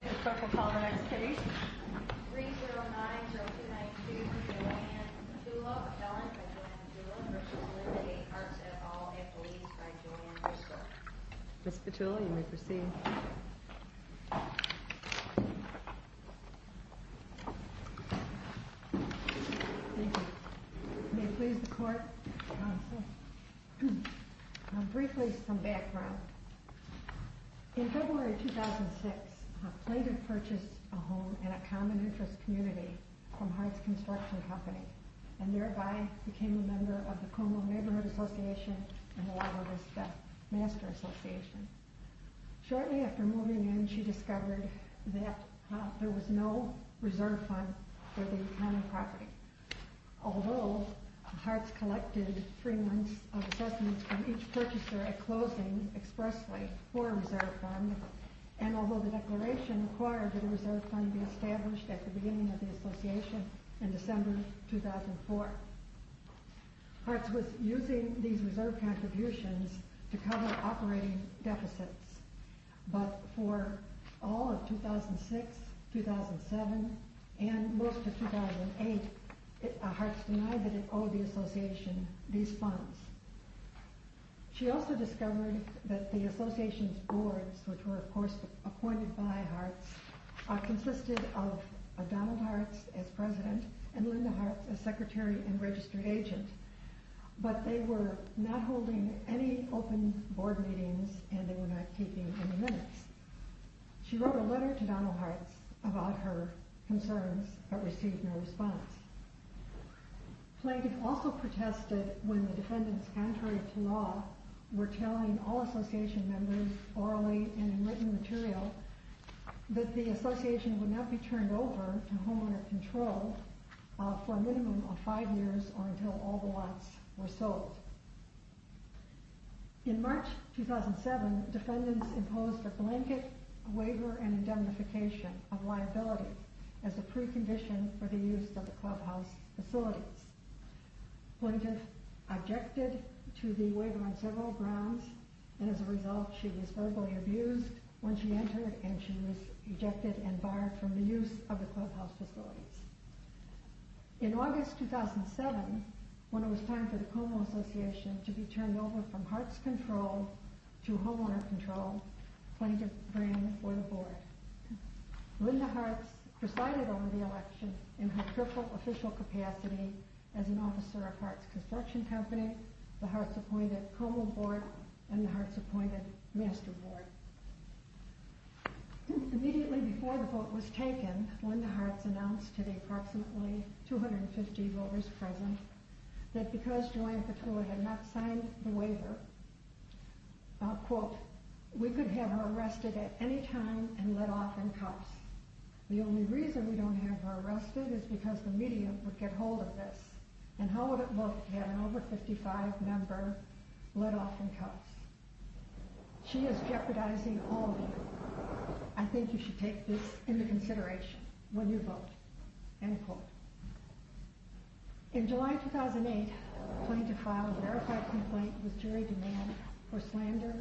at all, at the least, by Joanne Bristow. Ms. Petulli, you may proceed. Thank you. May it please the Court? Briefly, some background. In February 2006, a plaintiff purchased a home in a common interest community from Hartz Construction Company, and thereby became a member of the Como Neighborhood Association and the Lago Vista Master Association. Shortly after moving in, she discovered that there was no reserve fund for the common property. Although, Hartz collected three months of assessments from each purchaser at closing expressly for a reserve fund, and although the declaration required that a reserve fund be established at the beginning of the association in December 2004. Hartz was using these reserve contributions to cover operating deficits, but for all of 2006, 2007, and most of 2008, Hartz denied that it owed the association these funds. She also discovered that the association's boards, which were of course appointed by Hartz, consisted of Donald Hartz as president and Linda Hartz as secretary and registered agent, but they were not holding any open board meetings and they were not keeping any minutes. She wrote a letter to Donald Hartz about her concerns, but received no response. Plaintiff also protested when the defendants' entry to law were telling all association members, orally and in written material, that the association would not be turned over to homeowner control for a minimum of five years or until all the lots were sold. In March 2007, defendants imposed a blanket waiver and indemnification of liability as a precondition for the use of the clubhouse facilities. Plaintiff objected to the waiver on several grounds, and as a result, she was verbally abused when she entered and she was ejected and barred from the use of the clubhouse facilities. In August 2007, when it was time for the Como Association to be turned over from Hartz Control to homeowner control, plaintiff ran for the board. Linda Hartz presided over the election in her careful official capacity as an officer of Hartz Construction Company, the Hartz-appointed Como Board, and the Hartz-appointed Master Board. Immediately before the vote was taken, Linda Hartz announced to the approximately 250 voters present that because Joanne Petula had not signed the waiver, quote, we could have her arrested at any time and let off in cuffs. The only reason we don't have her arrested is because the media would get hold of this, and how would it look to have an over-55 member let off in cuffs? She is jeopardizing all of you. I think you should take this into consideration when you vote, end quote. In July 2008, plaintiff filed a verified complaint with jury demand for slander,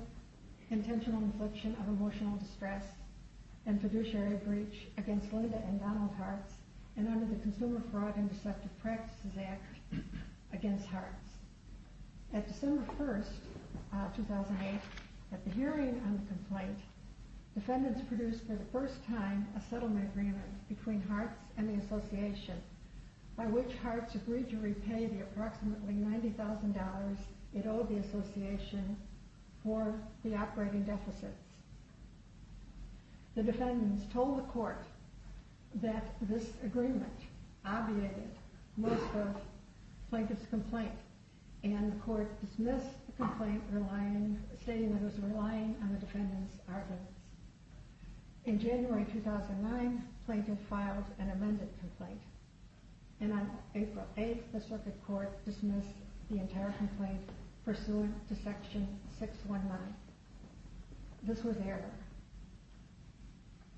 intentional infliction of emotional distress, and fiduciary breach against Linda and Donald Hartz and under the Consumer Fraud Interceptive Practices Act against Hartz. At December 1, 2008, at the hearing on the complaint, defendants produced for the first time a settlement agreement between Hartz and the association, by which Hartz agreed to repay the approximately $90,000 it owed the association for the operating deficits. The defendants told the court that this agreement obviated most of Plankett's complaint, and the court dismissed the complaint, stating that it was relying on the defendants' arguments. In January 2009, Plankett filed an amended complaint, and on April 8, the circuit court dismissed the entire complaint pursuant to Section 619. This was error.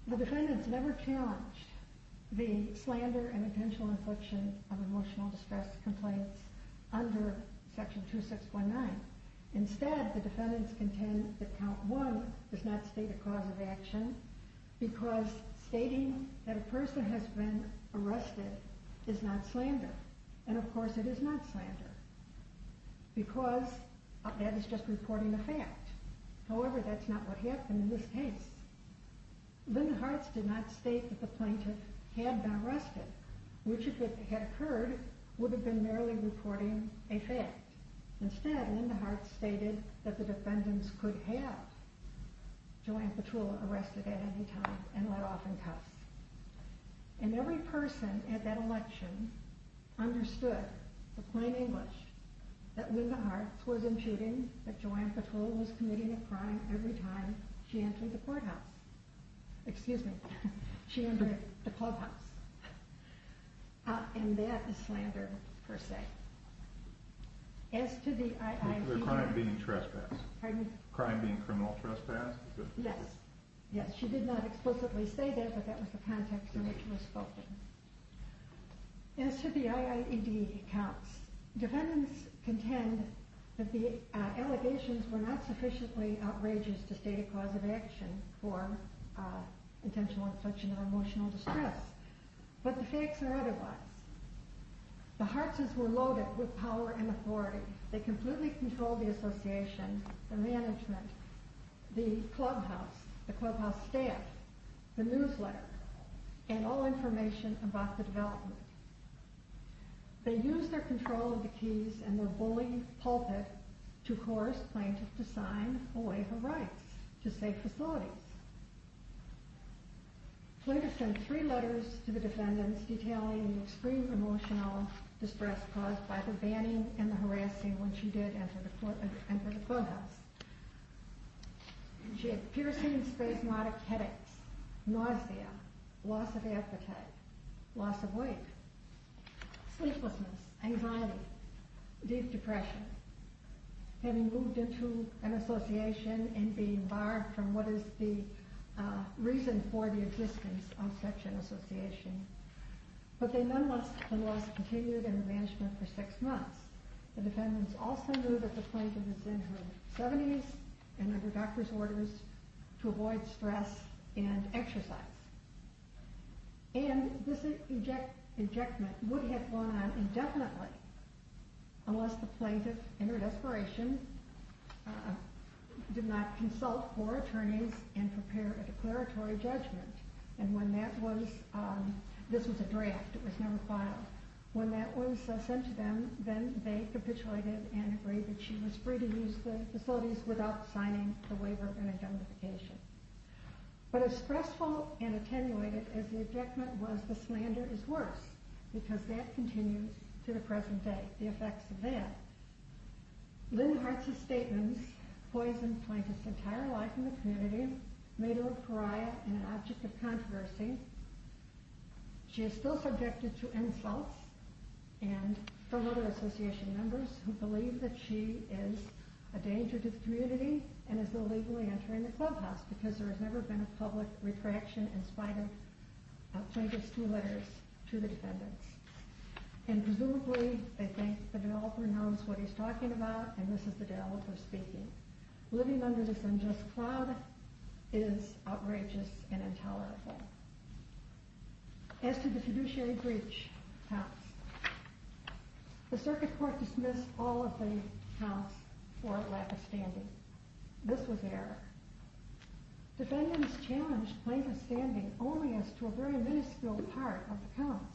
The defendants never challenged the slander and intentional infliction of emotional distress complaints under Section 2619. Instead, the defendants contend that Count 1 does not state a cause of action because stating that a person has been arrested is not slander, and of course it is not slander because that is just reporting a fact. However, that's not what happened in this case. Linda Hartz did not state that the plaintiff had been arrested, which, if it had occurred, would have been merely reporting a fact. Instead, Linda Hartz stated that the defendants could have Joanne Petrula arrested at any time and let off in cuffs. And every person at that election understood, to plain English, that Linda Hartz was imputing that Joanne Petrula was committing a crime every time she entered the courthouse. Excuse me. She entered the clubhouse. And that is slander, per se. As to the IIB... The crime being trespass. Pardon? Crime being criminal trespass. Yes. Yes, she did not explicitly say that, but that was the context in which it was spoken. As to the IIED counts, defendants contend that the allegations were not sufficiently outrageous to state a cause of action for intentional infliction of emotional distress. But the facts are otherwise. The Hartzes were loaded with power and authority. They completely controlled the association, the management, the clubhouse, the clubhouse staff, the newsletter, and all information about the development. They used their control of the keys and their bully pulpit to coerce plaintiffs to sign a wave of rights to safe facilities. Plaintiffs sent three letters to the defendants detailing the extreme emotional distress caused by the banning and the harassing when she did enter the clubhouse. She had piercing and spasmodic headaches, nausea, loss of appetite, loss of weight, sleeplessness, anxiety, deep depression. Having moved into an association and being barred from what is the reason for the existence of such an association. But then nonetheless, the loss continued and the management for six months. The defendants also knew that the plaintiff was in her 70s and under doctor's orders to avoid stress and exercise. And this injectment would have gone on indefinitely unless the plaintiff in her desperation did not consult four attorneys and prepare a declaratory judgment. And when that was, this was a draft, it was never filed. When that was sent to them, then they capitulated and agreed that she was free to use the facilities without signing the waiver and identification. But as stressful and attenuated as the injectment was, the slander is worse because that continues to the present day, the effects of that. Lynn Hartz's statements poisoned Plaintiff's entire life in the community, made her a pariah and an object of controversy. She is still subjected to insults and fellow association members who believe that she is a danger to the community and is illegally entering the clubhouse because there has never been a public retraction in spite of Plaintiff's two letters to the defendants. And presumably they think the developer knows what he's talking about and this is the developer speaking. Living under this unjust cloud is outrageous and intolerable. As to the fiduciary breach, the circuit court dismissed all of the counts for lack of standing. This was error. Defendants challenged plaintiff's standing only as to a very miniscule part of the counts,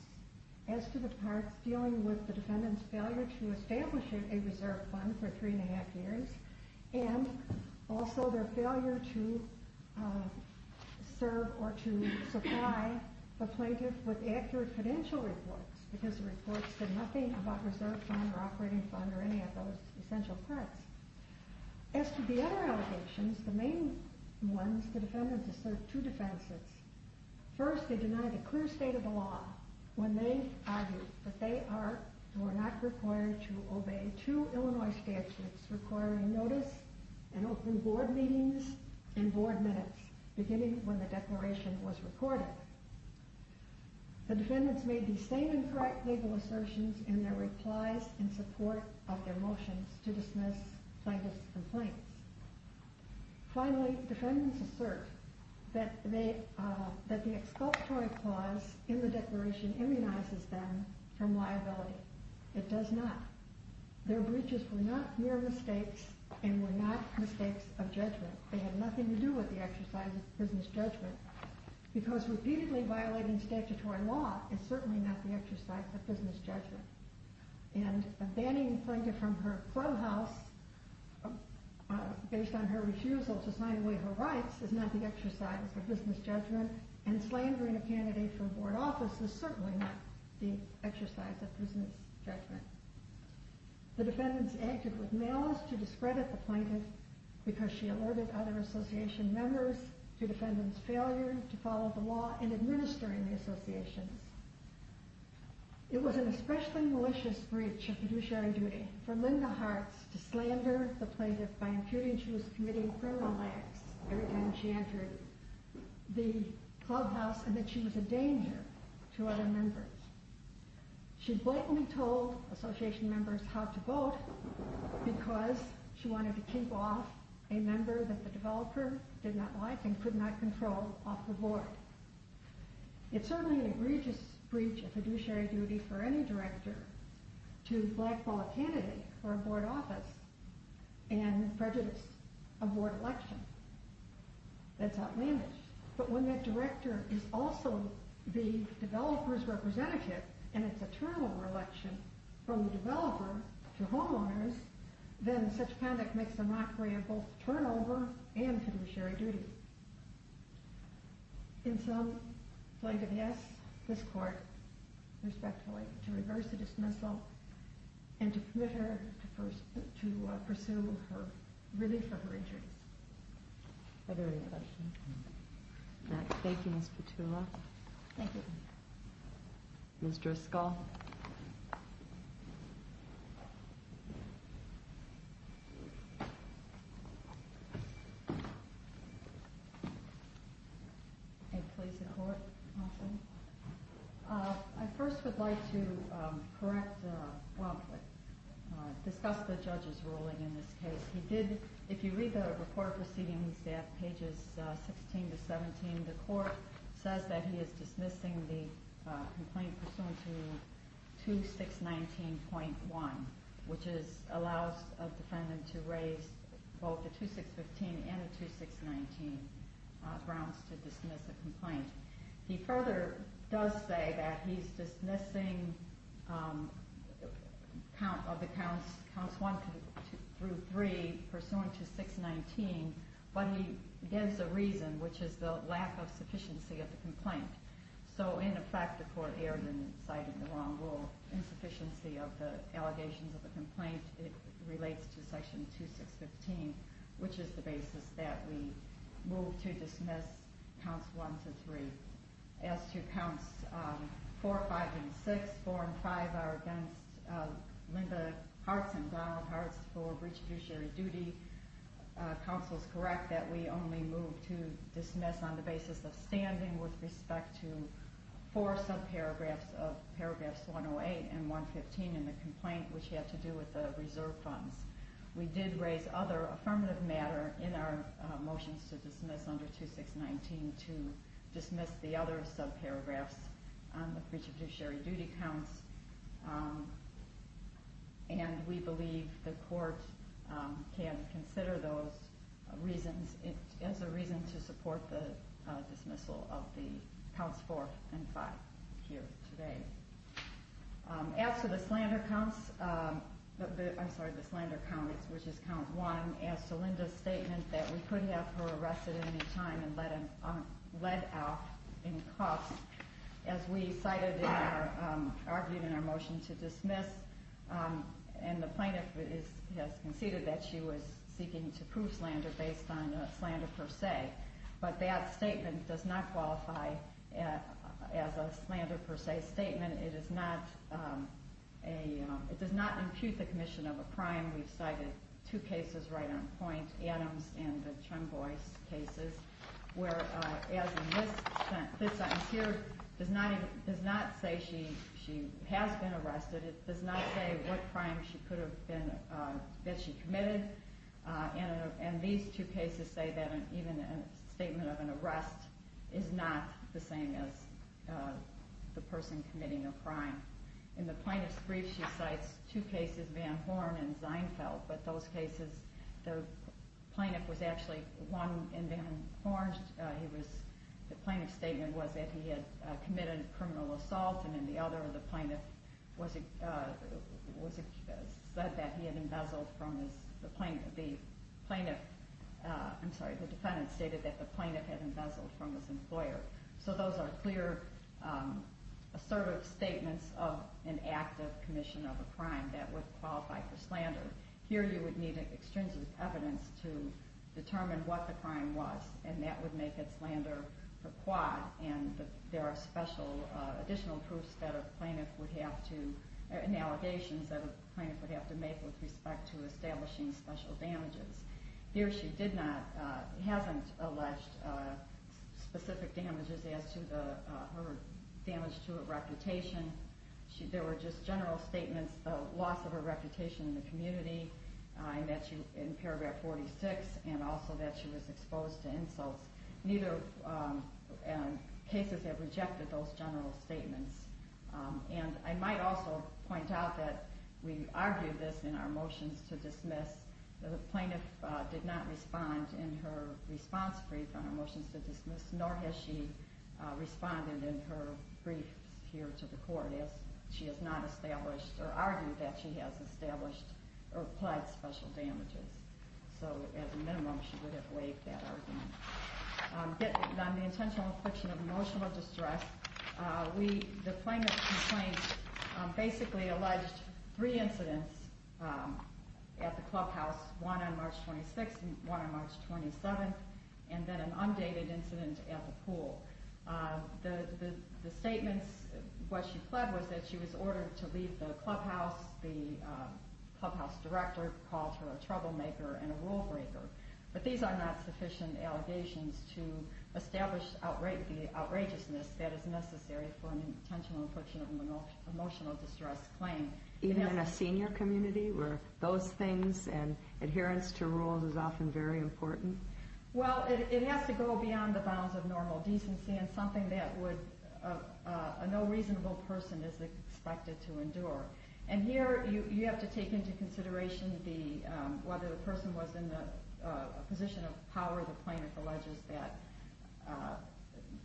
as to the parts dealing with the defendant's failure to establish a reserve fund for three and a half years and also their failure to serve or to supply the plaintiff with accurate credential reports because the reports said nothing about reserve fund or operating fund or any of those essential parts. As to the other allegations, the main ones, the defendants asserted two defenses. First, they denied a clear state of the law when they argued that they were not required to obey two Illinois statutes requiring notice and open board meetings and board minutes beginning when the declaration was recorded. The defendants made the same incorrect legal assertions in their replies in support of their motions to dismiss plaintiff's complaints. Finally, defendants assert that the exculpatory clause in the declaration immunizes them from liability. It does not. Their breaches were not mere mistakes and were not mistakes of judgment. They had nothing to do with the exercise of business judgment because repeatedly violating statutory law is certainly not the exercise of business judgment. And banning a plaintiff from her courthouse based on her refusal to sign away her rights is not the exercise of business judgment, and slandering a candidate for board office is certainly not the exercise of business judgment. The defendants acted with malice to discredit the plaintiff because she alerted other association members to defendants' failure to follow the law and administering the associations. It was an especially malicious breach of fiduciary duty for Linda Hartz to slander the plaintiff by imputing she was committing criminal acts every time she entered the clubhouse and that she was a danger to other members. She blatantly told association members how to vote because she wanted to keep off a member that the developer did not like and could not control off the board. It's certainly an egregious breach of fiduciary duty for any director to blackball a candidate for a board office and prejudice a board election. That's outlandish. But when that director is also the developer's representative and it's a turnover election from the developer to homeowners, then such conduct makes a mockery of both turnover and fiduciary duty. In sum, plaintiff asks this court, respectfully, to reverse the dismissal and to permit her to pursue relief for her injuries. Are there any questions? No. Thank you, Ms. Petula. Thank you. Ms. Driscoll. May it please the court, counsel? I first would like to correct, well, discuss the judge's ruling in this case. He did, if you read the report proceedings at pages 16 to 17, the court says that he is dismissing the complaint pursuant to 2619.1, which allows a defendant to raise both a 2615 and a 2619 grounds to dismiss a complaint. He further does say that he's dismissing counts 1 through 3 pursuant to 619, but he gives a reason, which is the lack of sufficiency of the complaint. So in effect, the court erred in citing the wrong rule. Insufficiency of the allegations of the complaint relates to section 2615, which is the basis that we move to dismiss counts 1 through 3. As to counts 4, 5, and 6, 4 and 5 are against Linda Hartz and Donald Hartz for retributionary duty. Counsel is correct that we only move to dismiss on the basis of standing with respect to four subparagraphs of paragraphs 108 and 115 in the complaint, which had to do with the reserve funds. We did raise other affirmative matter in our motions to dismiss under 2619 to dismiss the other subparagraphs on the retributionary duty counts, and we believe the court can consider those reasons as a reason to support the dismissal of the counts 4 and 5 here today. As to the slander counts, I'm sorry, the slander counts, which is count 1, as to Linda's statement that we couldn't have her arrested at any time and let out in cuffs, as we cited in our argument, our motion to dismiss, and the plaintiff has conceded that she was seeking to prove slander based on a slander per se, but that statement does not qualify as a slander per se statement. It does not impute the commission of a crime. We've cited two cases right on point, Adams and the Chung Boyce cases, where, as in this instance here, it does not say she has been arrested. It does not say what crime she could have been, that she committed, and these two cases say that even a statement of an arrest is not the same as the person committing a crime. In the plaintiff's brief, she cites two cases, Van Horn and Seinfeld, but those cases, the plaintiff was actually, one, in Van Horn, the plaintiff's statement was that he had committed a criminal assault, and in the other, the plaintiff said that he had embezzled from his, the plaintiff, I'm sorry, the defendant stated that the plaintiff had embezzled from his employer. So those are clear, assertive statements of an active commission of a crime that would qualify for slander. Here, you would need extrinsic evidence to determine what the crime was, and that would make it slander per qua, and there are special additional proofs that a plaintiff would have to, and allegations that a plaintiff would have to make with respect to establishing special damages. Here, she did not, hasn't alleged specific damages as to her damage to her reputation. There were just general statements of loss of her reputation in the community, and that she, in paragraph 46, and also that she was exposed to insults. Neither cases have rejected those general statements, and I might also point out that we argued this in our motions to dismiss. The plaintiff did not respond in her response brief on her motions to dismiss, nor has she responded in her briefs here to the court as she has not established, or argued that she has established or applied special damages. So, at a minimum, she would have waived that argument. On the intentional infliction of emotional distress, the plaintiff's complaint basically alleged three incidents at the clubhouse, one on March 26th and one on March 27th, and then an undated incident at the pool. The statements, what she pled, was that she was ordered to leave the clubhouse. The clubhouse director called her a troublemaker and a rule breaker. But these are not sufficient allegations to establish the outrageousness that is necessary for an intentional infliction of emotional distress claim. Even in a senior community where those things and adherence to rules is often very important? Well, it has to go beyond the bounds of normal decency and something that a no reasonable person is expected to endure. And here, you have to take into consideration whether the person was in a position of power. The plaintiff alleges that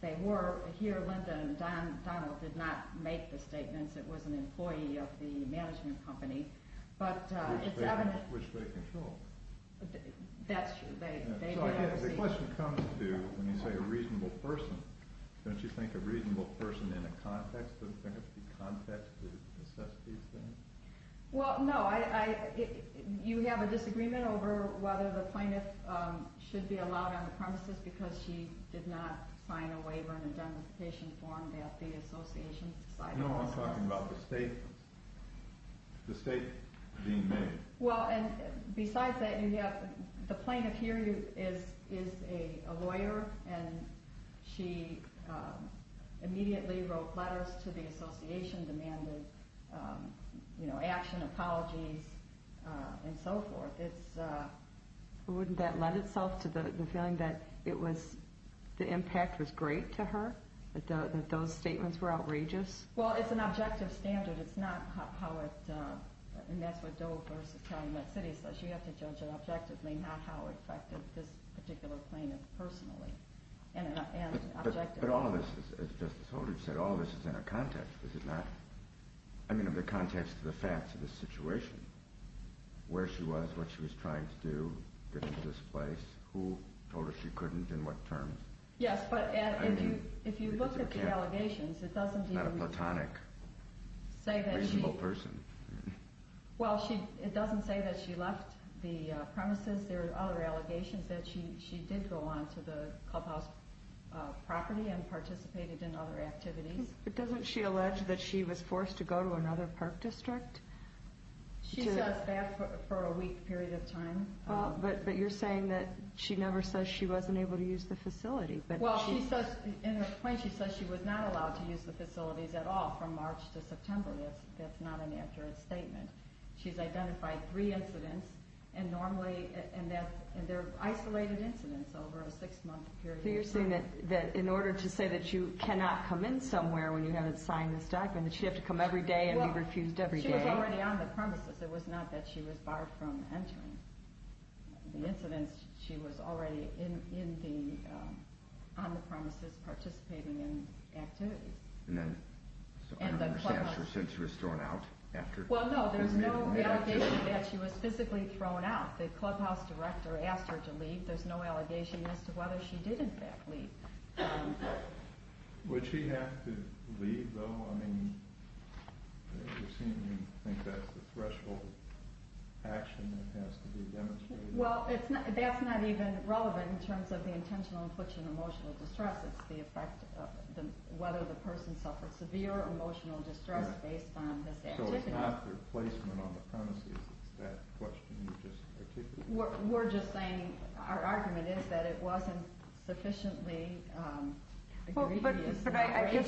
they were. Here, Linda and Donald did not make the statements. It was an employee of the management company, but it's evident. Which they control. That's true. So the question comes to, when you say a reasonable person, don't you think a reasonable person in a context, doesn't there have to be context to assess these things? Well, no. You have a disagreement over whether the plaintiff should be allowed on the premises because she did not sign a waiver and identification form that the association decided also. You know I'm talking about the statement being made. Well, and besides that, the plaintiff here is a lawyer and she immediately wrote letters to the association demanding action, apologies, and so forth. Wouldn't that lend itself to the feeling that the impact was great to her? That those statements were outrageous? Well, it's an objective standard. It's not how it, and that's what Dover is telling that city. So she had to judge it objectively, not how it affected this particular plaintiff personally. But all of this, as Justice Holdred said, all of this is in a context. Is it not? I mean in the context of the facts of the situation. Where she was, what she was trying to do, get into this place, who told her she couldn't, in what terms. Yes, but if you look at the allegations, it doesn't even... Not a platonic, reasonable person. Well, it doesn't say that she left the premises. There are other allegations that she did go on to the clubhouse property and participated in other activities. But doesn't she allege that she was forced to go to another park district? She says that for a week period of time. But you're saying that she never says she wasn't able to use the facility. Well, in her claim she says she was not allowed to use the facilities at all from March to September. That's not an accurate statement. She's identified three incidents, and they're isolated incidents over a six-month period of time. So you're saying that in order to say that you cannot come in somewhere when you haven't signed this document, that she'd have to come every day and be refused every day. She was already on the premises. It was not that she was barred from entering. The incidents, she was already on the premises, participating in activities. So I don't understand, she was thrown out after... Well, no, there's no allegation that she was physically thrown out. The clubhouse director asked her to leave. There's no allegation as to whether she did, in fact, leave. Would she have to leave, though? I think you're saying you think that's the threshold action that has to be demonstrated. Well, that's not even relevant in terms of the intentional infliction of emotional distress. It's the effect of whether the person suffered severe emotional distress based on this activity. So it's not their placement on the premises. It's that question you just articulated. We're just saying our argument is that it wasn't sufficiently egregious and outrageous.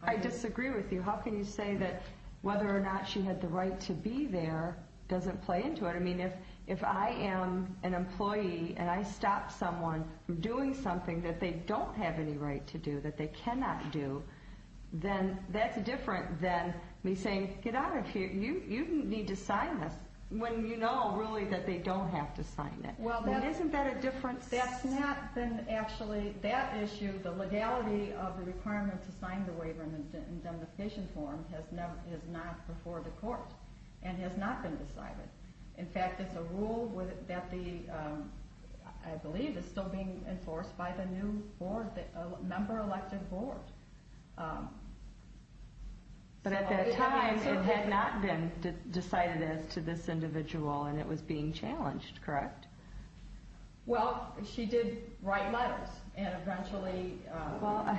But I disagree with you. How can you say that whether or not she had the right to be there doesn't play into it? I mean, if I am an employee and I stop someone from doing something that they don't have any right to do, that they cannot do, then that's different than me saying, get out of here, you need to sign this, when you know, really, that they don't have to sign it. Isn't that a different... That's not been actually, that issue, the legality of the requirement to sign the waiver in the indemnification form has not been before the court and has not been decided. In fact, it's a rule that the, I believe, is still being enforced by the new board, the member elected board. But at that time, it had not been decided as to this individual and it was being challenged, correct? Well, she did write letters and eventually... Well,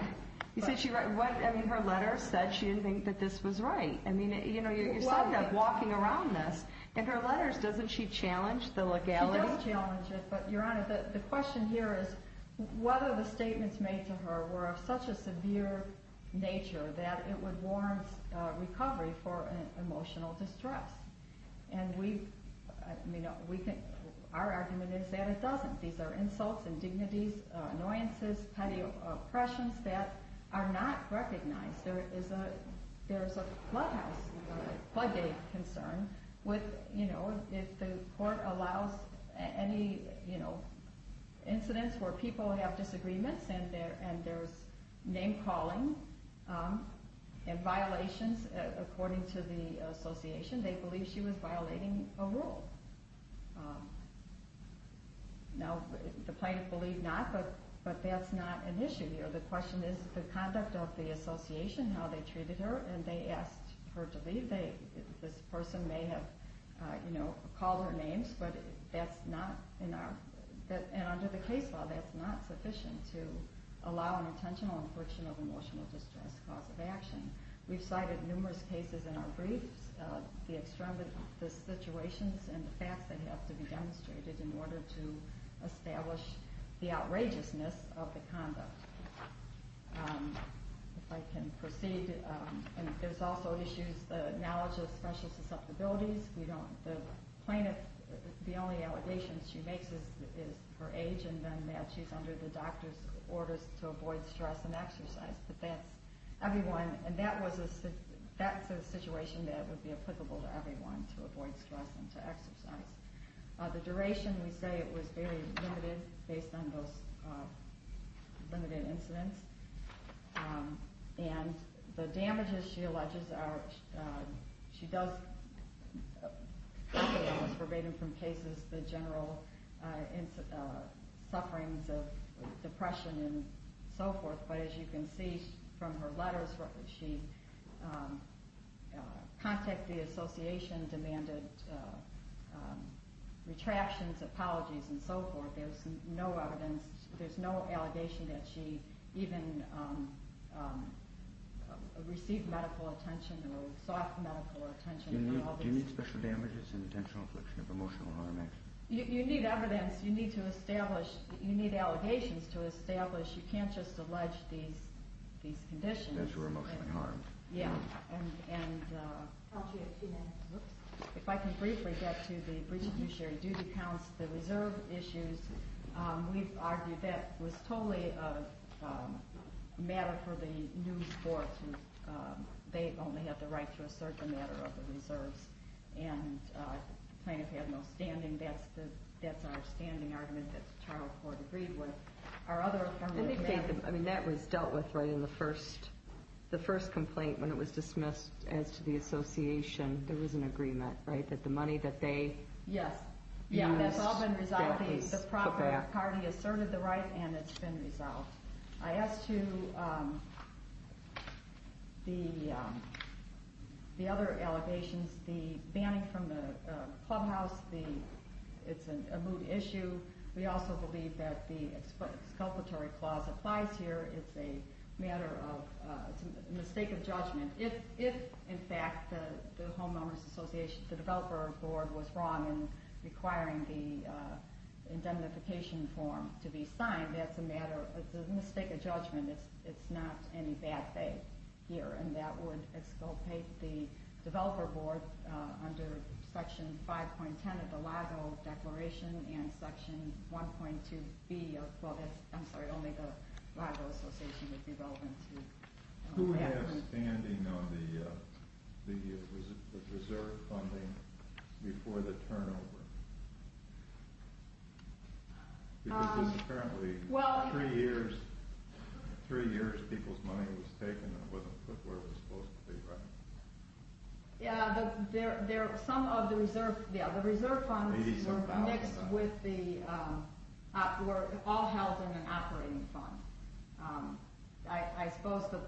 you said she wrote, I mean, her letters said she didn't think that this was right. I mean, you know, you're talking about walking around this and her letters, doesn't she challenge the legality? She does challenge it, but Your Honor, the question here is whether the statements made to her were of such a severe nature that it would warrant recovery for emotional distress. And we, you know, our argument is that it doesn't. These are insults, indignities, annoyances, petty oppressions that are not recognized. There is a flood house, floodgate concern with, you know, if the court allows any, you know, incidents where people have disagreements and there's name calling and violations, according to the association, they believe she was violating a rule. Now, the plaintiff believed not, but that's not an issue here. The question is the conduct of the association, how they treated her, and they asked her to leave. This person may have, you know, called her names, but that's not, and under the case law, that's not sufficient to allow an intentional infriction of emotional distress cause of action. We've cited numerous cases in our briefs, the extremities of the situations and the facts that have to be demonstrated in order to establish the outrageousness of the conduct. If I can proceed, and there's also issues, the knowledge of special susceptibilities. We don't, the plaintiff, the only allegations she makes is her age and then that she's under the doctor's orders to avoid stress and exercise, but that's everyone, and that's a situation that would be applicable to everyone to avoid stress and to exercise. The duration, we say it was very limited based on those limited incidents, and the damages she alleges are, she does, verbatim from cases, the general sufferings of depression and so forth, but as you can see from her letters, she contacted the association, demanded retractions, apologies, and so forth. There's no evidence, there's no allegation that she even received medical attention or sought medical attention. Do you need special damages and intentional affliction of emotional harm action? You need evidence, you need to establish, you need allegations to establish, you can't just allege these conditions. As for emotional harm. Yeah, and if I can briefly get to the breach of judiciary due to counts, the reserve issues, we've argued that was totally a matter for the new court, they only have the right to assert the matter of the reserves, and the plaintiff had no standing. That's our standing argument that the charged court agreed with. Our other affirmative action... I mean, that was dealt with right in the first complaint when it was dismissed as to the association. There was an agreement, right, that the money that they... Yes. Yeah, that's all been resolved. The proper party asserted the right, and it's been resolved. As to the other allegations, the banning from the clubhouse, it's a moot issue. We also believe that the exculpatory clause applies here. It's a matter of, it's a mistake of judgment. If, in fact, the homeowners association, the developer board was wrong in requiring the indemnification form to be signed, that's a matter of, it's a mistake of judgment. It's not any bad faith here, and that would exculpate the developer board under section 5.10 of the LIGO declaration and section 1.2B of, well, that's, I'm sorry, only the LIGO association would be relevant to... Who has standing on the reserve funding before the turnover? Because this is apparently three years, three years people's money was taken and it wasn't put where it was supposed to be, right? Yeah, some of the reserve funds were mixed with the, were all held in an operating fund. I suppose that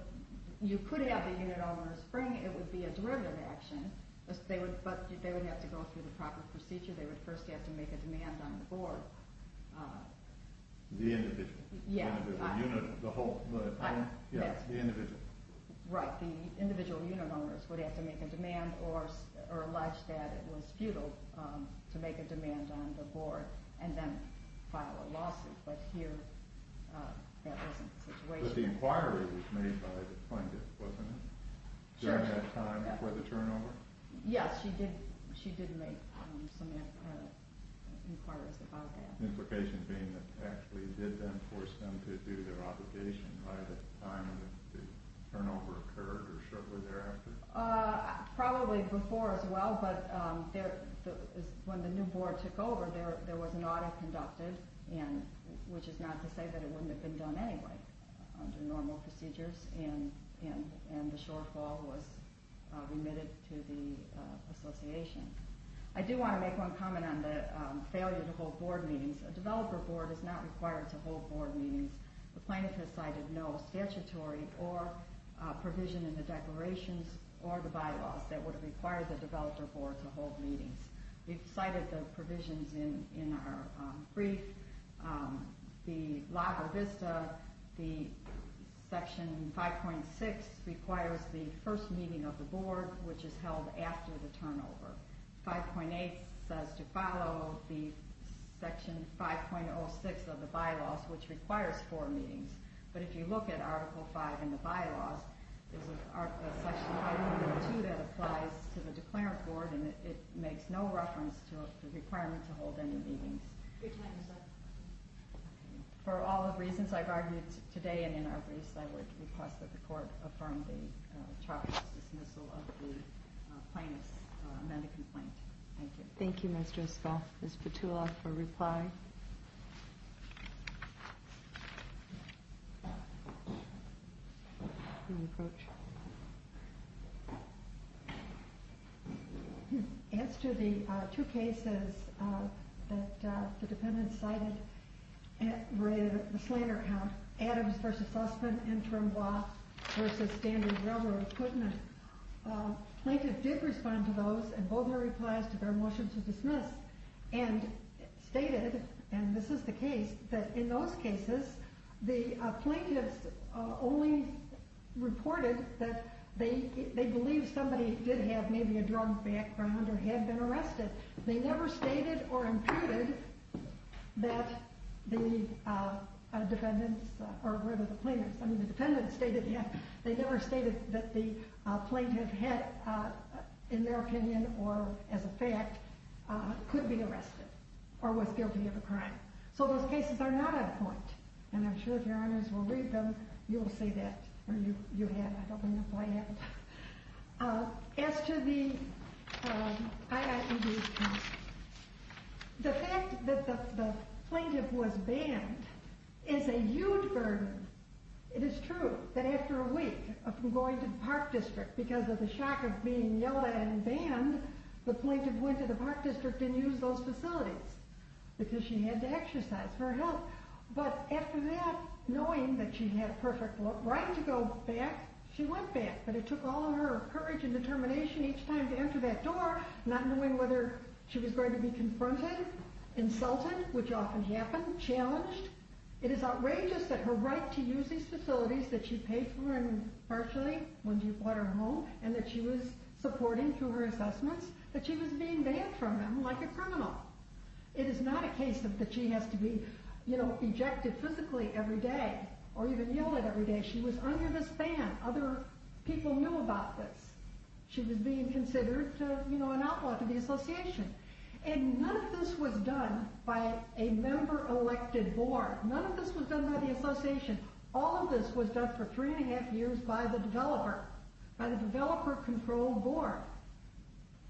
you could have the unit owners bring, it would be a derivative action, but they would have to go through the proper procedure. They would first have to make a demand on the board. The individual? Yeah. The whole unit? Yeah, the individual. Right, the individual unit owners would have to make a demand or allege that it was futile to make a demand on the board and then file a lawsuit, but here that wasn't the situation. But the inquiry was made by the plaintiff, wasn't it? During that time before the turnover? Yes, she did make some inquiries about that. Implications being that it actually did then force them to do their obligation by the time the turnover occurred or shortly thereafter? Probably before as well, but when the new board took over, there was an audit conducted, which is not to say that it wouldn't have been done anyway under normal procedures, and the shortfall was remitted to the association. I do want to make one comment on the failure to hold board meetings. A developer board is not required to hold board meetings. The plaintiff has cited no statutory or provision in the declarations or the bylaws that would have required the developer board to hold meetings. We've cited the provisions in our brief. The Lago Vista, the Section 5.6 requires the first meeting of the board, which is held after the turnover. 5.8 says to follow the Section 5.06 of the bylaws, which requires four meetings. But if you look at Article 5 in the bylaws, there's a Section 5.2 that applies to the declarant board and it makes no reference to the requirement to hold any meetings. For all the reasons I've argued today and in our briefs, I would request that the court affirm the charge of dismissal of the plaintiff's amended complaint. Thank you. Thank you, Ms. Driscoll. Ms. Petula for a reply. As to the two cases that the defendant cited related to the Slater account, Adams v. Sussman, interim law v. standard railroad equipment, plaintiff did respond to those in both their replies to their motion to dismiss and stated, and this is the case, that in those cases, the plaintiffs only reported that they believed somebody did have maybe a drug background or had been arrested. They never stated or imputed that the defendant's, or rather the plaintiff's, they never stated that the plaintiff had, in their opinion or as a fact, could be arrested or was guilty of a crime. So those cases are not at point. And I'm sure if your honors will read them, you'll see that. Or you have. I don't know why you haven't. As to the IIED complaint, the fact that the plaintiff was banned is a huge burden. It is true that after a week of going to the park district, because of the shock of being yelled at and banned, the plaintiff went to the park district and used those facilities because she had to exercise for her health. But after that, knowing that she had a perfect right to go back, she went back. But it took all of her courage and determination each time to enter that door, not knowing whether she was going to be confronted, insulted, which often happened, challenged. It is outrageous that her right to use these facilities that she paid for and partially when she bought her home and that she was supporting through her assessments, that she was being banned from them like a criminal. It is not a case that she has to be ejected physically every day or even yelled at every day. She was under this ban. Other people knew about this. She was being considered an outlaw to the association. And none of this was done by a member-elected board. None of this was done by the association. All of this was done for three and a half years by the developer, by the developer-controlled board.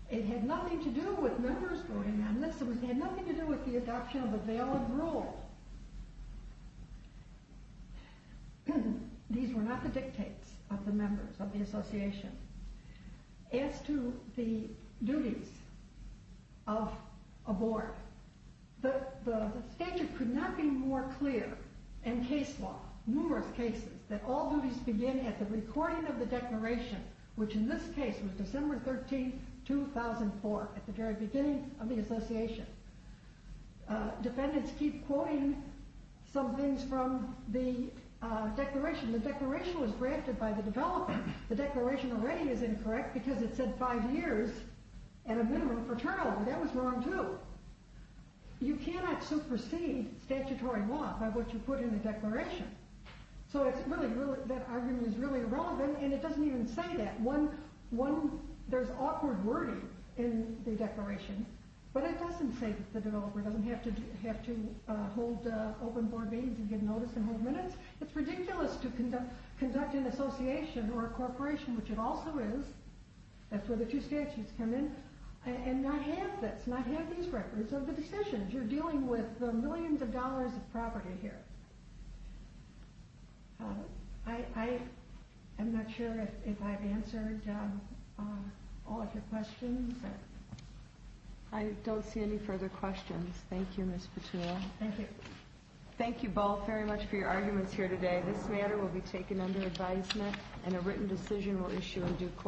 It had nothing to do with members voting on this. It had nothing to do with the adoption of a valid rule. These were not the dictates of the members of the association. As to the duties of a board, the statute could not be more clear in case law, numerous cases that all duties begin at the recording of the declaration, which in this case was December 13, 2004, at the very beginning of the association. Defendants keep quoting some things from the declaration. The declaration was drafted by the developer. The declaration already is incorrect because it said five years and a minimum for turnover. That was wrong, too. You cannot supersede statutory law by what you put in the declaration. So that argument is really irrelevant, There's awkward wording in the declaration, but it doesn't say that the developer doesn't have to hold open board meetings and get notice and hold minutes. It's ridiculous to conduct an association or a corporation, which it also is, that's where the two statutes come in, and not have this, not have these records of the decisions. You're dealing with the millions of dollars of property here. I'm not sure if I've answered all of your questions. I don't see any further questions. Thank you, Ms. Petula. Thank you. Thank you both very much for your arguments here today. This matter will be taken under advisement, and a written decision will issue in due course.